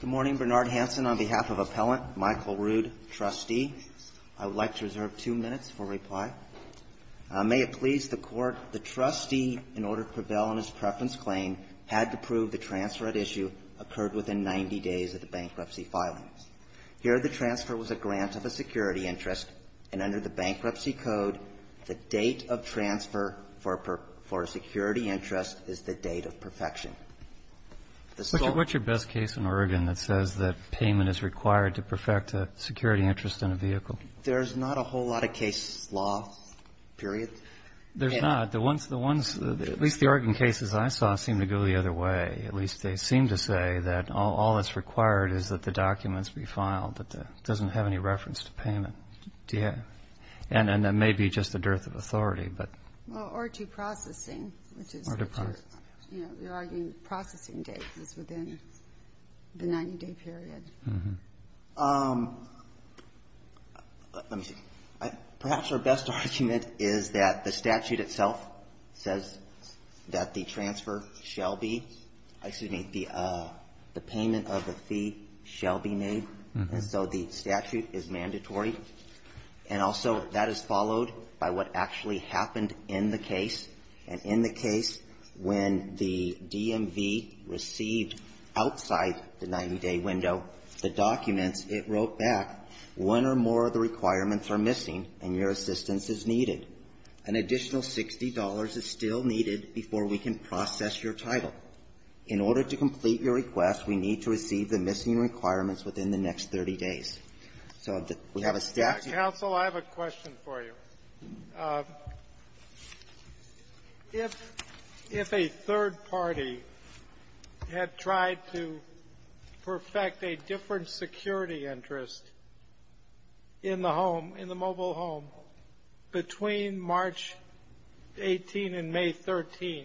Good morning, Bernard Hanson. On behalf of Appellant Michael Rood, Trustee, I would like to reserve two minutes for reply. May it please the Court, the Trustee, in order to prevail on his preference claim, had to prove the transfer at issue occurred within 90 days of the bankruptcy filings. Here, the transfer was a grant of a security interest, and under the Bankruptcy Code, the date of transfer for a security interest is the date of perfection. The sole ---- Roberts, what's your best case in Oregon that says that payment is required to perfect a security interest in a vehicle? There's not a whole lot of case law, period. There's not. The ones ---- the ones ---- at least the Oregon cases I saw seem to go the other way. At least they seem to say that all that's required is that the documents be filed, that it doesn't have any reference to payment. Do you have ---- And then maybe just the dearth of authority, but ---- Well, or to processing, which is ---- Or to processing. You know, you're arguing processing date is within the 90-day period. Let me see. Perhaps our best argument is that the statute itself says that the transfer shall be ---- excuse me, the payment of the fee shall be made, and so the statute is mandatory. And also, that is followed by what actually happened in the case. And in the case, when the DMV received outside the 90-day window the documents, it wrote back, one or more of the requirements are missing and your assistance is needed. An additional $60 is still needed before we can process your title. In order to complete your request, we need to receive the missing requirements within the next 30 days. So we have a statute ---- Counsel, I have a question for you. If a third party had tried to perfect a different security interest in the home, in the mobile home, between March 18 and May 13,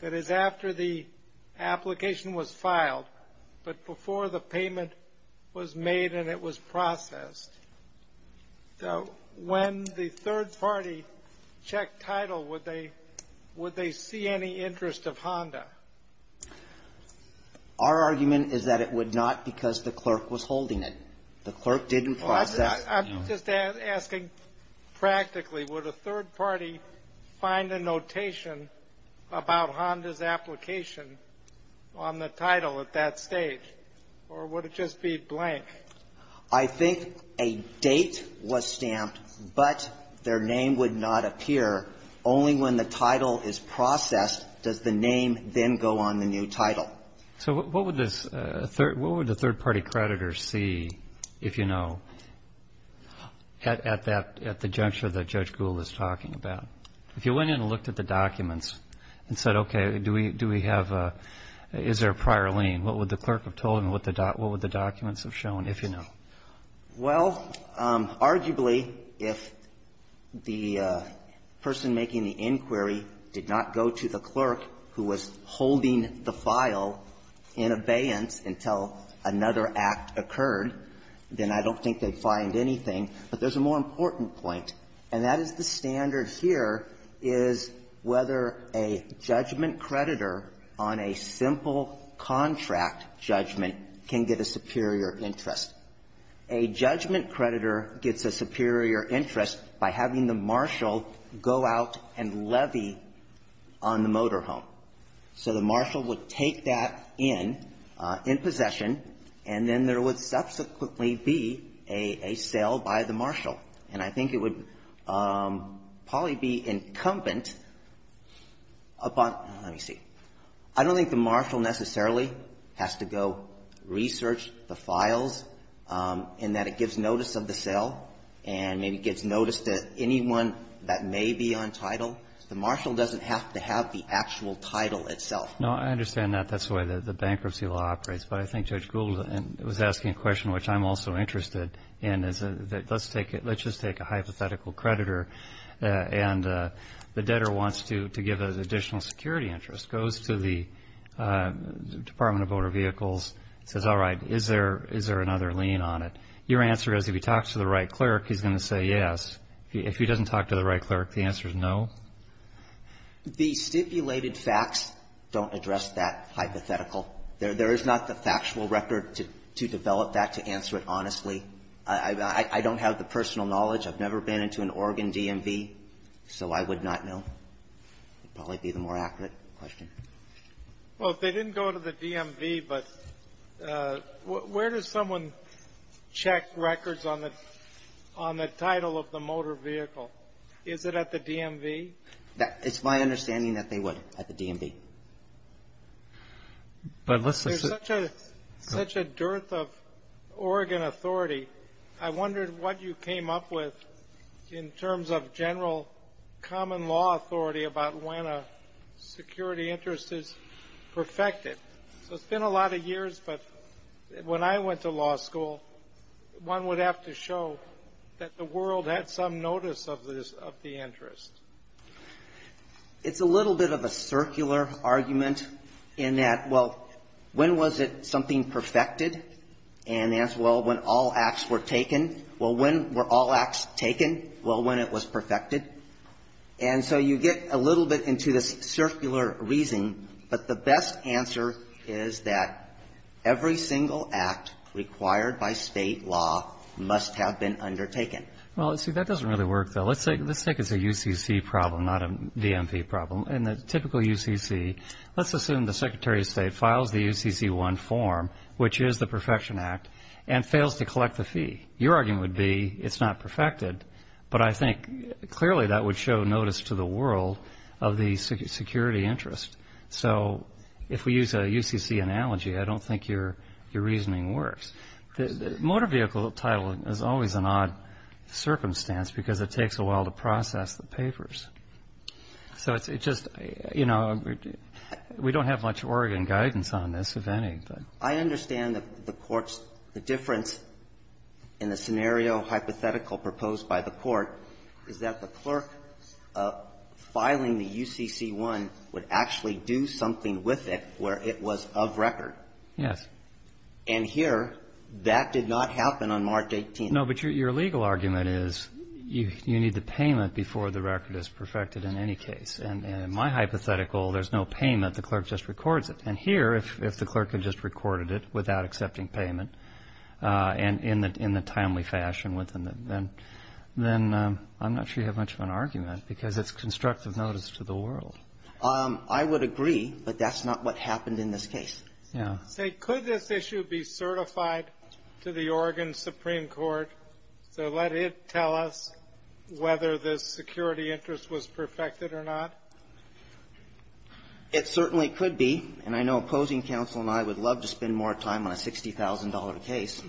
that is after the application was filed, but before the payment was made and it was processed, when the third party checked title, would they see any interest of Honda? Our argument is that it would not because the clerk was holding it. The clerk didn't process ---- I'm just asking practically. Would a third party find a notation about Honda's application on the title at that stage, or would it just be blank? I think a date was stamped, but their name would not appear. Only when the title is processed does the name then go on the new title. So what would this third ---- what would the third party creditor see, if you know, at that ---- at the juncture that Judge Gould is talking about? If you went in and looked at the documents and said, okay, do we have a ---- is there a prior lien, what would the clerk have told him? What would the documents have shown, if you know? Well, arguably, if the person making the inquiry did not go to the clerk who was holding the file in abeyance until another act occurred, then I don't think they'd find anything. But there's a more important point, and that is the standard here is whether a judgment creditor on a simple contract judgment can get a superior interest. A judgment creditor gets a superior interest by having the marshal go out and levy on the motorhome. So the marshal would take that in, in possession, and then there would subsequently be a sale by the marshal. And I think it would probably be incumbent upon ---- let me see. I don't think the marshal necessarily has to go research the files in that it gives notice of the sale and maybe gives notice to anyone that may be on title. The marshal doesn't have to have the actual title itself. No, I understand that. That's the way that the bankruptcy law operates. But I think Judge Gould was asking a question which I'm also interested in, is that let's just take a hypothetical creditor, and the debtor wants to give an additional security interest, goes to the Department of Motor Vehicles, says, all right, is there another lien on it? Your answer is if he talks to the right clerk, he's going to say yes. If he doesn't talk to the right clerk, the answer is no? The stipulated facts don't address that hypothetical. There is not the factual record to develop that to answer it honestly. I don't have the personal knowledge. I've never been into an Oregon DMV, so I would not know. It would probably be the more accurate question. Well, if they didn't go to the DMV, but where does someone check records on the title of the motor vehicle? Is it at the DMV? It's my understanding that they would at the DMV. But let's just... There's such a dearth of Oregon authority, I wondered what you came up with in terms of general common law authority about when a security interest is perfected. So it's been a lot of years, but when I went to law school, one would have to show that the world had some notice of the interest. It's a little bit of a circular argument in that, well, when was it something perfected? And the answer is, well, when all acts were taken. Well, when were all acts taken? Well, when it was perfected. And so you get a little bit into this circular reasoning, but the best answer is that every single act required by state law must have been undertaken. Well, see, that doesn't really work, though. Let's take as a UCC problem, not a DMV problem. In the typical UCC, let's assume the Secretary of State files the UCC-1 form, which is the Perfection Act, and fails to collect the fee. Your argument would be it's not perfected, but I think clearly that would show notice to the world of the security interest. So if we use a UCC analogy, I don't think your reasoning works. The motor vehicle title is always an odd circumstance, because it takes a while to process the papers. So it's just, you know, we don't have much Oregon guidance on this, if any. I understand that the Court's, the difference in the scenario hypothetical proposed by the Court is that the clerk filing the UCC-1 would actually do something with it where it was of record. Yes. And here, that did not happen on March 18th. No, but your legal argument is you need the payment before the record is perfected in any case. And in my hypothetical, there's no payment. The clerk just records it. And here, if the clerk had just recorded it without accepting payment, and in the timely fashion, then I'm not sure you have much of an argument, because it's constructive notice to the world. I would agree, but that's not what happened in this case. Yeah. Say, could this issue be certified to the Oregon Supreme Court to let it tell us whether the security interest was perfected or not? It certainly could be. And I know opposing counsel and I would love to spend more time on a $60,000 case.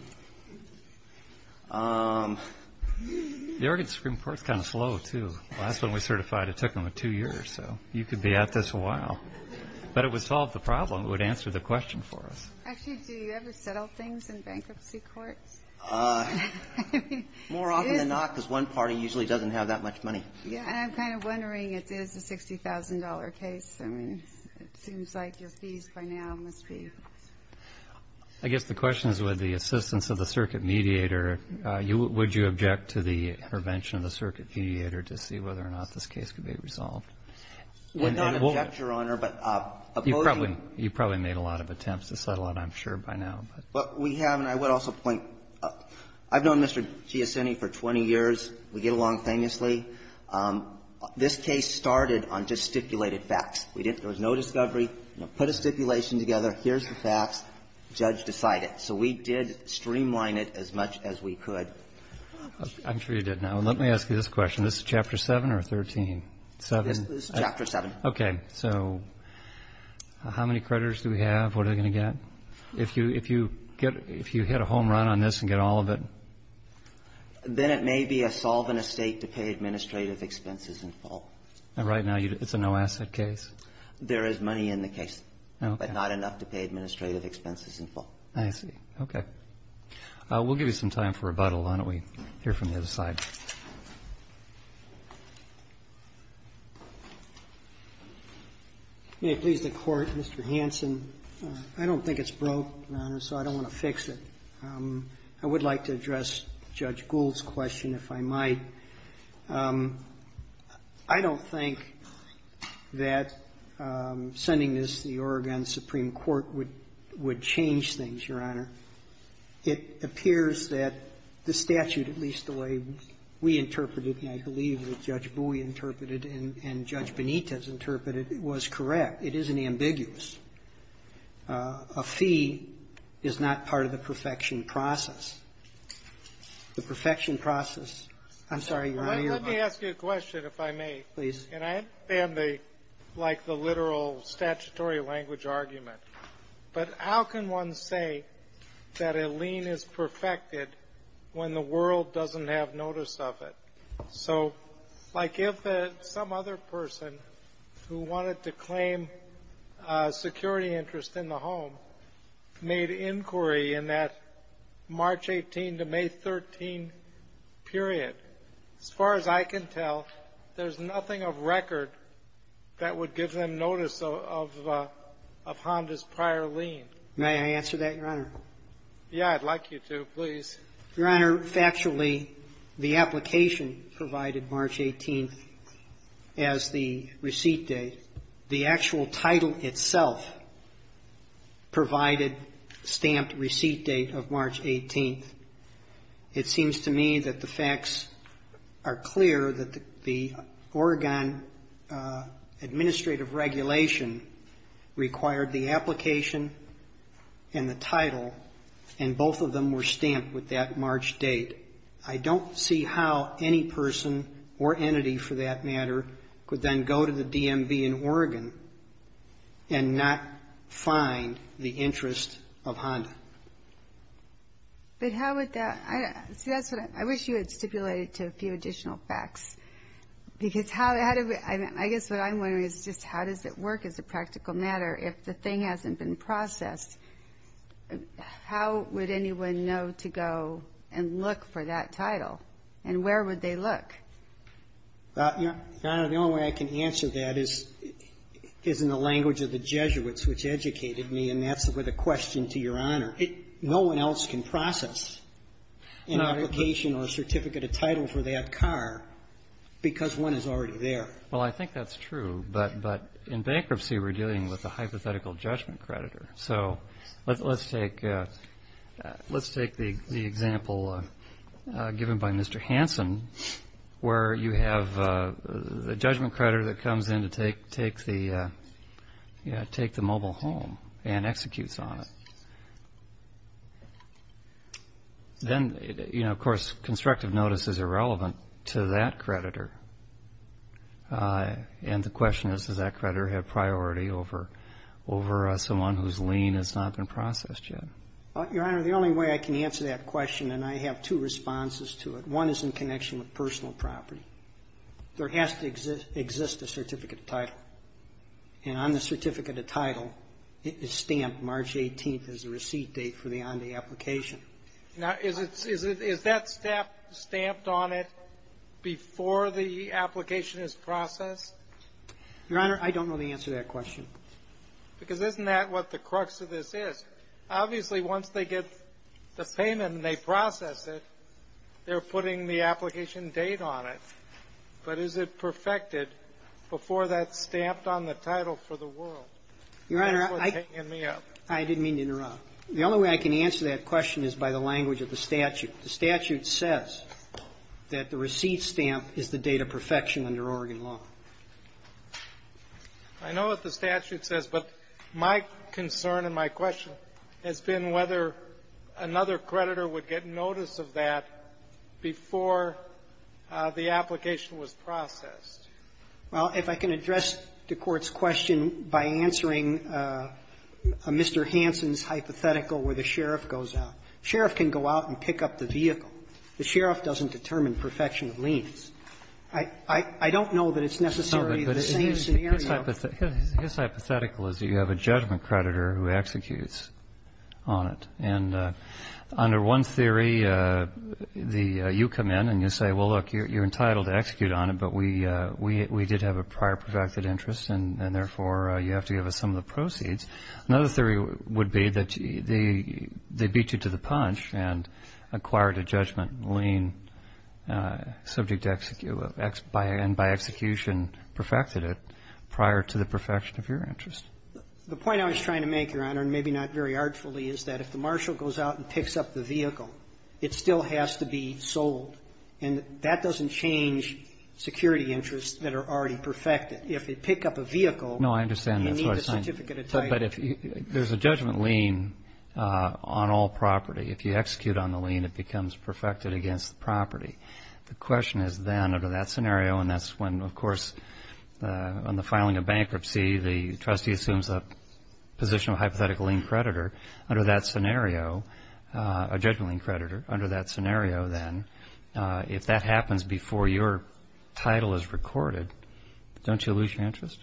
The Oregon Supreme Court's kind of slow, too. The last one we certified, it took them two years. So you could be at this a while. But it would solve the problem. It would answer the question for us. Actually, do you ever settle things in bankruptcy courts? More often than not, because one party usually doesn't have that much money. Yeah. And I'm kind of wondering if it is a $60,000 case. I mean, it seems like your fees by now must be. I guess the question is with the assistance of the circuit mediator, would you object to the intervention of the circuit mediator to see whether or not this case could be resolved? I would not object, Your Honor, but opposing. You probably made a lot of attempts to settle it, I'm sure, by now. But we have, and I would also point, I've known Mr. Giussini for 20 years. We get along famously. This case started on just stipulated facts. There was no discovery. Put a stipulation together. Here's the facts. The judge decided. So we did streamline it as much as we could. I'm sure you did. Now, let me ask you this question. This is Chapter 7 or 13? This is Chapter 7. Okay. So how many creditors do we have? What are they going to get? If you hit a home run on this and get all of it? Then it may be a solvent estate to pay administrative expenses in full. Right now, it's a no-asset case? There is money in the case, but not enough to pay administrative expenses in full. I see. Okay. We'll give you some time for rebuttal. Why don't we hear from the other side? May it please the Court, Mr. Hanson. I don't think it's broke, Your Honor, so I don't want to fix it. I would like to address Judge Gould's question, if I might. I don't think that sending this to the Oregon Supreme Court would change things, Your Honor. It appears that the statute, at least the way we interpreted and I believe that Judge Bowie interpreted and Judge Benitez interpreted, was correct. It isn't ambiguous. A fee is not part of the perfection process. The perfection process, I'm sorry, Your Honor. Let me ask you a question, if I may. Please. And I like the literal statutory language argument. But how can one say that a lien is perfected when the world doesn't have notice of it? So like if some other person who wanted to claim security interest in the home made inquiry in that March 18 to May 13 period, as far as I can tell, there's nothing of record that would give them notice of Honda's prior lien. May I answer that, Your Honor? Yeah. I'd like you to. Please. Your Honor, factually, the application provided March 18 as the receipt date. The actual title itself provided stamped receipt date of March 18. It seems to me that the facts are clear, that the Oregon administrative regulation required the application and the title, and both of them were stamped with that March date. I don't see how any person or entity, for that matter, could then go to the DMV in Oregon and not find the interest of Honda. But how would that – see, that's what I wish you had stipulated to a few additional facts. Because how – I guess what I'm wondering is just how does it work as a practical matter if the thing hasn't been processed? How would anyone know to go and look for that title? And where would they look? Your Honor, the only way I can answer that is in the language of the Jesuits, which educated me, and that's with a question to Your Honor. No one else can process an application or a certificate of title for that car because one is already there. Well, I think that's true. But in bankruptcy, we're dealing with a hypothetical judgment creditor. So let's take the example given by Mr. Hansen, where you have the judgment creditor that comes in to take the mobile home and executes on it. Then, you know, of course, constructive notice is irrelevant to that creditor. And the question is, does that creditor have priority over someone whose lien has not been processed yet? Your Honor, the only way I can answer that question, and I have two responses to it, one is in connection with personal property. There has to exist a certificate of title. And on the certificate of title, it's stamped March 18th as the receipt date for the on-day application. Now, is that stamp stamped on it before the application is processed? Your Honor, I don't know the answer to that question. Because isn't that what the crux of this is? Obviously, once they get the payment and they process it, they're putting the application date on it, but is it perfected before that's stamped on the title for the world? That's what's hanging me up. Your Honor, I didn't mean to interrupt. The only way I can answer that question is by the language of the statute. The statute says that the receipt stamp is the date of perfection under Oregon law. I know what the statute says, but my concern and my question has been whether another creditor would get notice of that before the application was processed. Well, if I can address the Court's question by answering Mr. Hansen's hypothetical where the sheriff goes out. The sheriff can go out and pick up the vehicle. The sheriff doesn't determine perfection of liens. I don't know that it's necessarily the same scenario. His hypothetical is that you have a judgment creditor who executes on it. And under one theory, you come in and you say, well, look, you're entitled to execute on it, but we did have a prior perfected interest, and therefore you have to give us some of the proceeds. Another theory would be that they beat you to the punch and acquired a judgment lien subject to execution, and by execution perfected it prior to the perfection of your interest. The point I was trying to make, Your Honor, and maybe not very artfully, is that if the marshal goes out and picks up the vehicle, it still has to be sold. And that doesn't change security interests that are already perfected. If they pick up a vehicle, you need a certificate of title. No, I understand. That's what I'm saying. But if there's a judgment lien on all property, if you execute on the lien, it becomes perfected against the property. The question is, then, under that scenario, and that's when, of course, on the filing of bankruptcy, the trustee assumes a position of hypothetical lien creditor. Under that scenario, a judgment lien creditor, under that scenario, then, if that happens before your title is recorded, don't you lose your interest?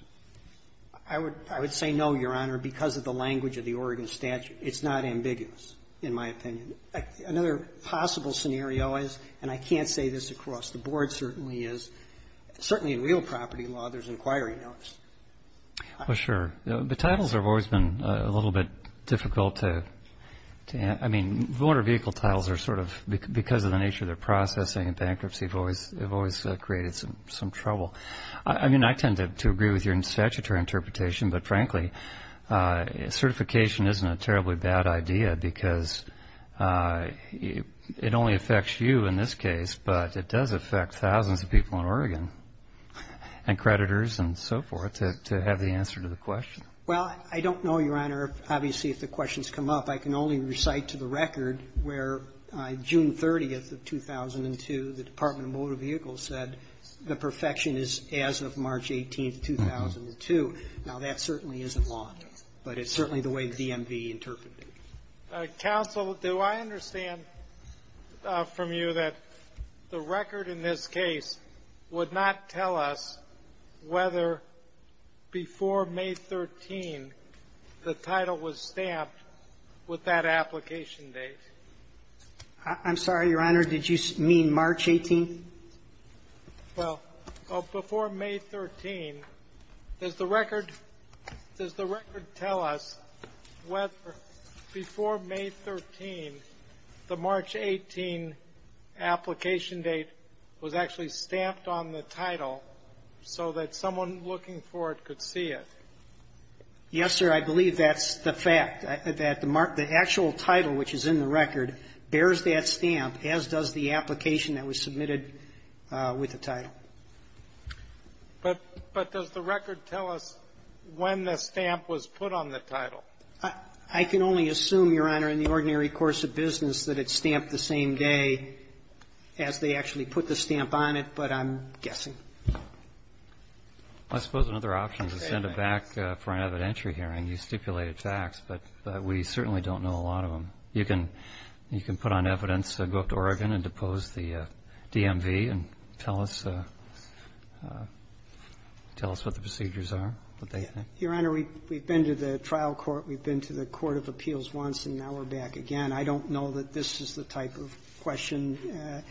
I would say no, Your Honor, because of the language of the Oregon statute. It's not ambiguous, in my opinion. Another possible scenario is, and I can't say this across the board, certainly is, certainly in real property law, there's an inquiry notice. Well, sure. The titles have always been a little bit difficult to answer. I mean, motor vehicle titles are sort of, because of the nature of their processing and bankruptcy, have always created some trouble. I mean, I tend to agree with your statutory interpretation, but, frankly, certification isn't a terribly bad idea, because it only affects you in this case, but it does affect thousands of people in Oregon, and creditors and so forth, to have the answer to the question. Well, I don't know, Your Honor, obviously, if the question's come up. I can only recite to the record where, June 30th of 2002, the Department of Motor Vehicles said the perfection is as of March 18th, 2002. Now, that certainly isn't law. But it's certainly the way the DMV interpreted it. Counsel, do I understand from you that the record in this case would not tell us whether before May 13th the title was stamped with that application date? I'm sorry, Your Honor. Did you mean March 18th? Well, before May 13th, does the record tell us whether before May 13th the March 18 application date was actually stamped on the title so that someone looking for it could see it? Yes, sir. I believe that's the fact, that the actual title which is in the record bears that with the title. But does the record tell us when the stamp was put on the title? I can only assume, Your Honor, in the ordinary course of business that it's stamped the same day as they actually put the stamp on it, but I'm guessing. I suppose another option is to send it back for an evidentiary hearing. You stipulated facts, but we certainly don't know a lot of them. You can put on evidence, go up to Oregon and depose the DMV and tell us what the procedures are, what they think. Your Honor, we've been to the trial court, we've been to the court of appeals once, and now we're back again. I don't know that this is the type of question.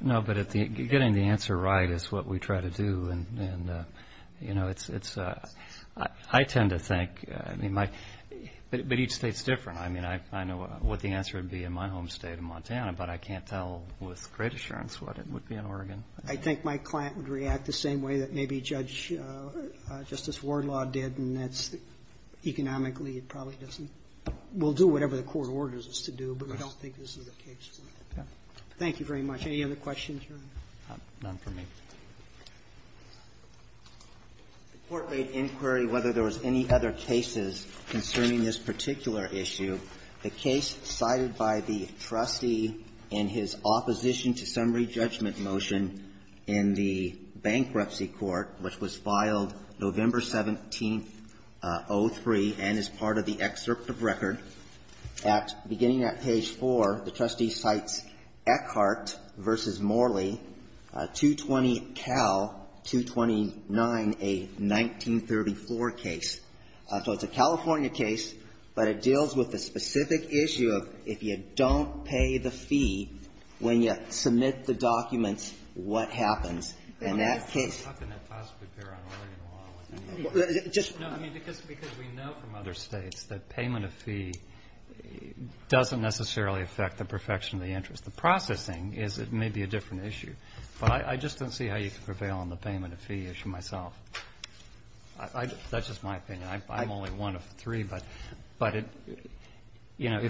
No, but getting the answer right is what we try to do. And, you know, it's a — I tend to think, I mean, my — but each State's different. I mean, I know what the answer would be in my home State of Montana, but I can't tell with great assurance what it would be in Oregon. I think my client would react the same way that maybe Judge — Justice Wardlaw did, and that's economically, it probably doesn't — we'll do whatever the court orders us to do, but I don't think this is the case. Thank you very much. Any other questions, Your Honor? None for me. The Court made inquiry whether there was any other cases concerning this particular issue. The case cited by the trustee in his opposition to summary judgment motion in the Bankruptcy Court, which was filed November 17, 03, and is part of the excerpt of record, at beginning at page 4, the trustee cites Eckhart v. Morley, 220-Cal-229, a 1934 case. So it's a California case, but it deals with the specific issue of if you don't pay the fee when you submit the documents, what happens in that case? No, I mean, because we know from other states that payment of fee doesn't necessarily affect the perfection of the interest. The processing is maybe a different issue, but I just don't see how you can prevail on the payment of fee issue myself. That's just my opinion. I'm only one of three, but, you know,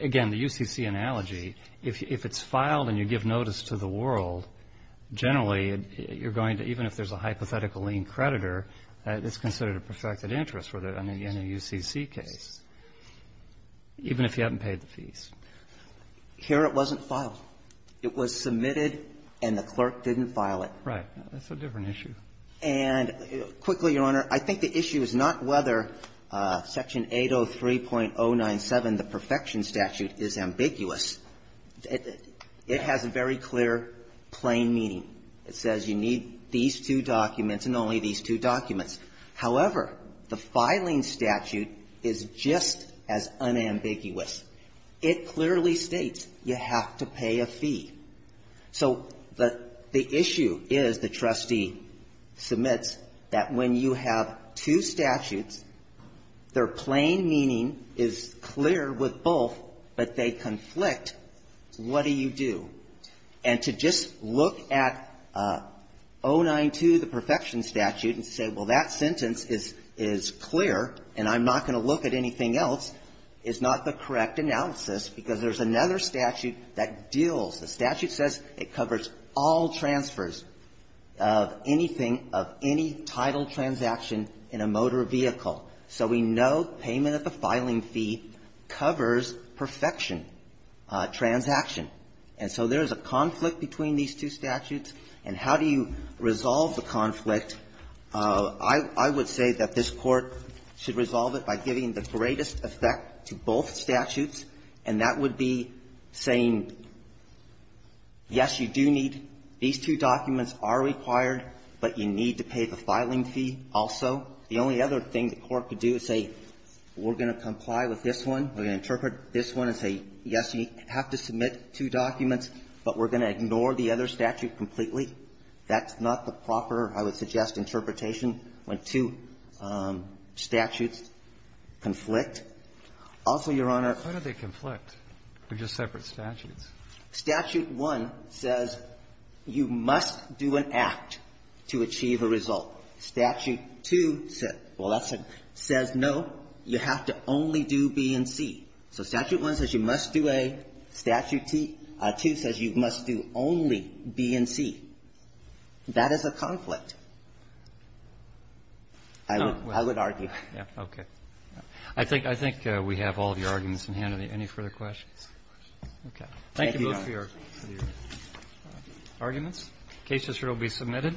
again, the UCC analogy, if it's filed and you give notice to the world, generally, you're going to, even if there's a hypothetical lien creditor, it's considered a perfected interest in a UCC case, even if you haven't paid the fees. Here it wasn't filed. It was submitted and the clerk didn't file it. That's a different issue. And quickly, Your Honor, I think the issue is not whether Section 803.097, the perfection statute, is ambiguous. It has a very clear plain meaning. It says you need these two documents and only these two documents. However, the filing statute is just as unambiguous. It clearly states you have to pay a fee. So the issue is the trustee submits that when you have two statutes, their plain meaning is clear with both, but they conflict. What do you do? And to just look at 092, the perfection statute, and say, well, that sentence is clear and I'm not going to look at anything else, is not the correct analysis because there's another statute that deals. The statute says it covers all transfers of anything, of any title transaction in a motor vehicle. So we know payment of the filing fee covers perfection transaction. And so there is a conflict between these two statutes. And how do you resolve the conflict? I would say that this Court should resolve it by giving the greatest effect to both statutes, and that would be saying, yes, you do need these two documents are required, but you need to pay the filing fee also. The only other thing the Court could do is say, we're going to comply with this one, we're going to interpret this one and say, yes, you have to submit two documents, but we're going to ignore the other statute completely. That's not the proper, I would suggest, interpretation when two statutes conflict. Also, Your Honor ---- Kennedy, why do they conflict? They're just separate statutes. Statute 1 says you must do an act to achieve a result. Statute 2 says no, you have to only do B and C. So statute 1 says you must do A. Statute 2 says you must do only B and C. That is a conflict, I would argue. Okay. I think we have all of your arguments in hand. Any further questions? Okay. Thank you both for your arguments. The case is here to be submitted.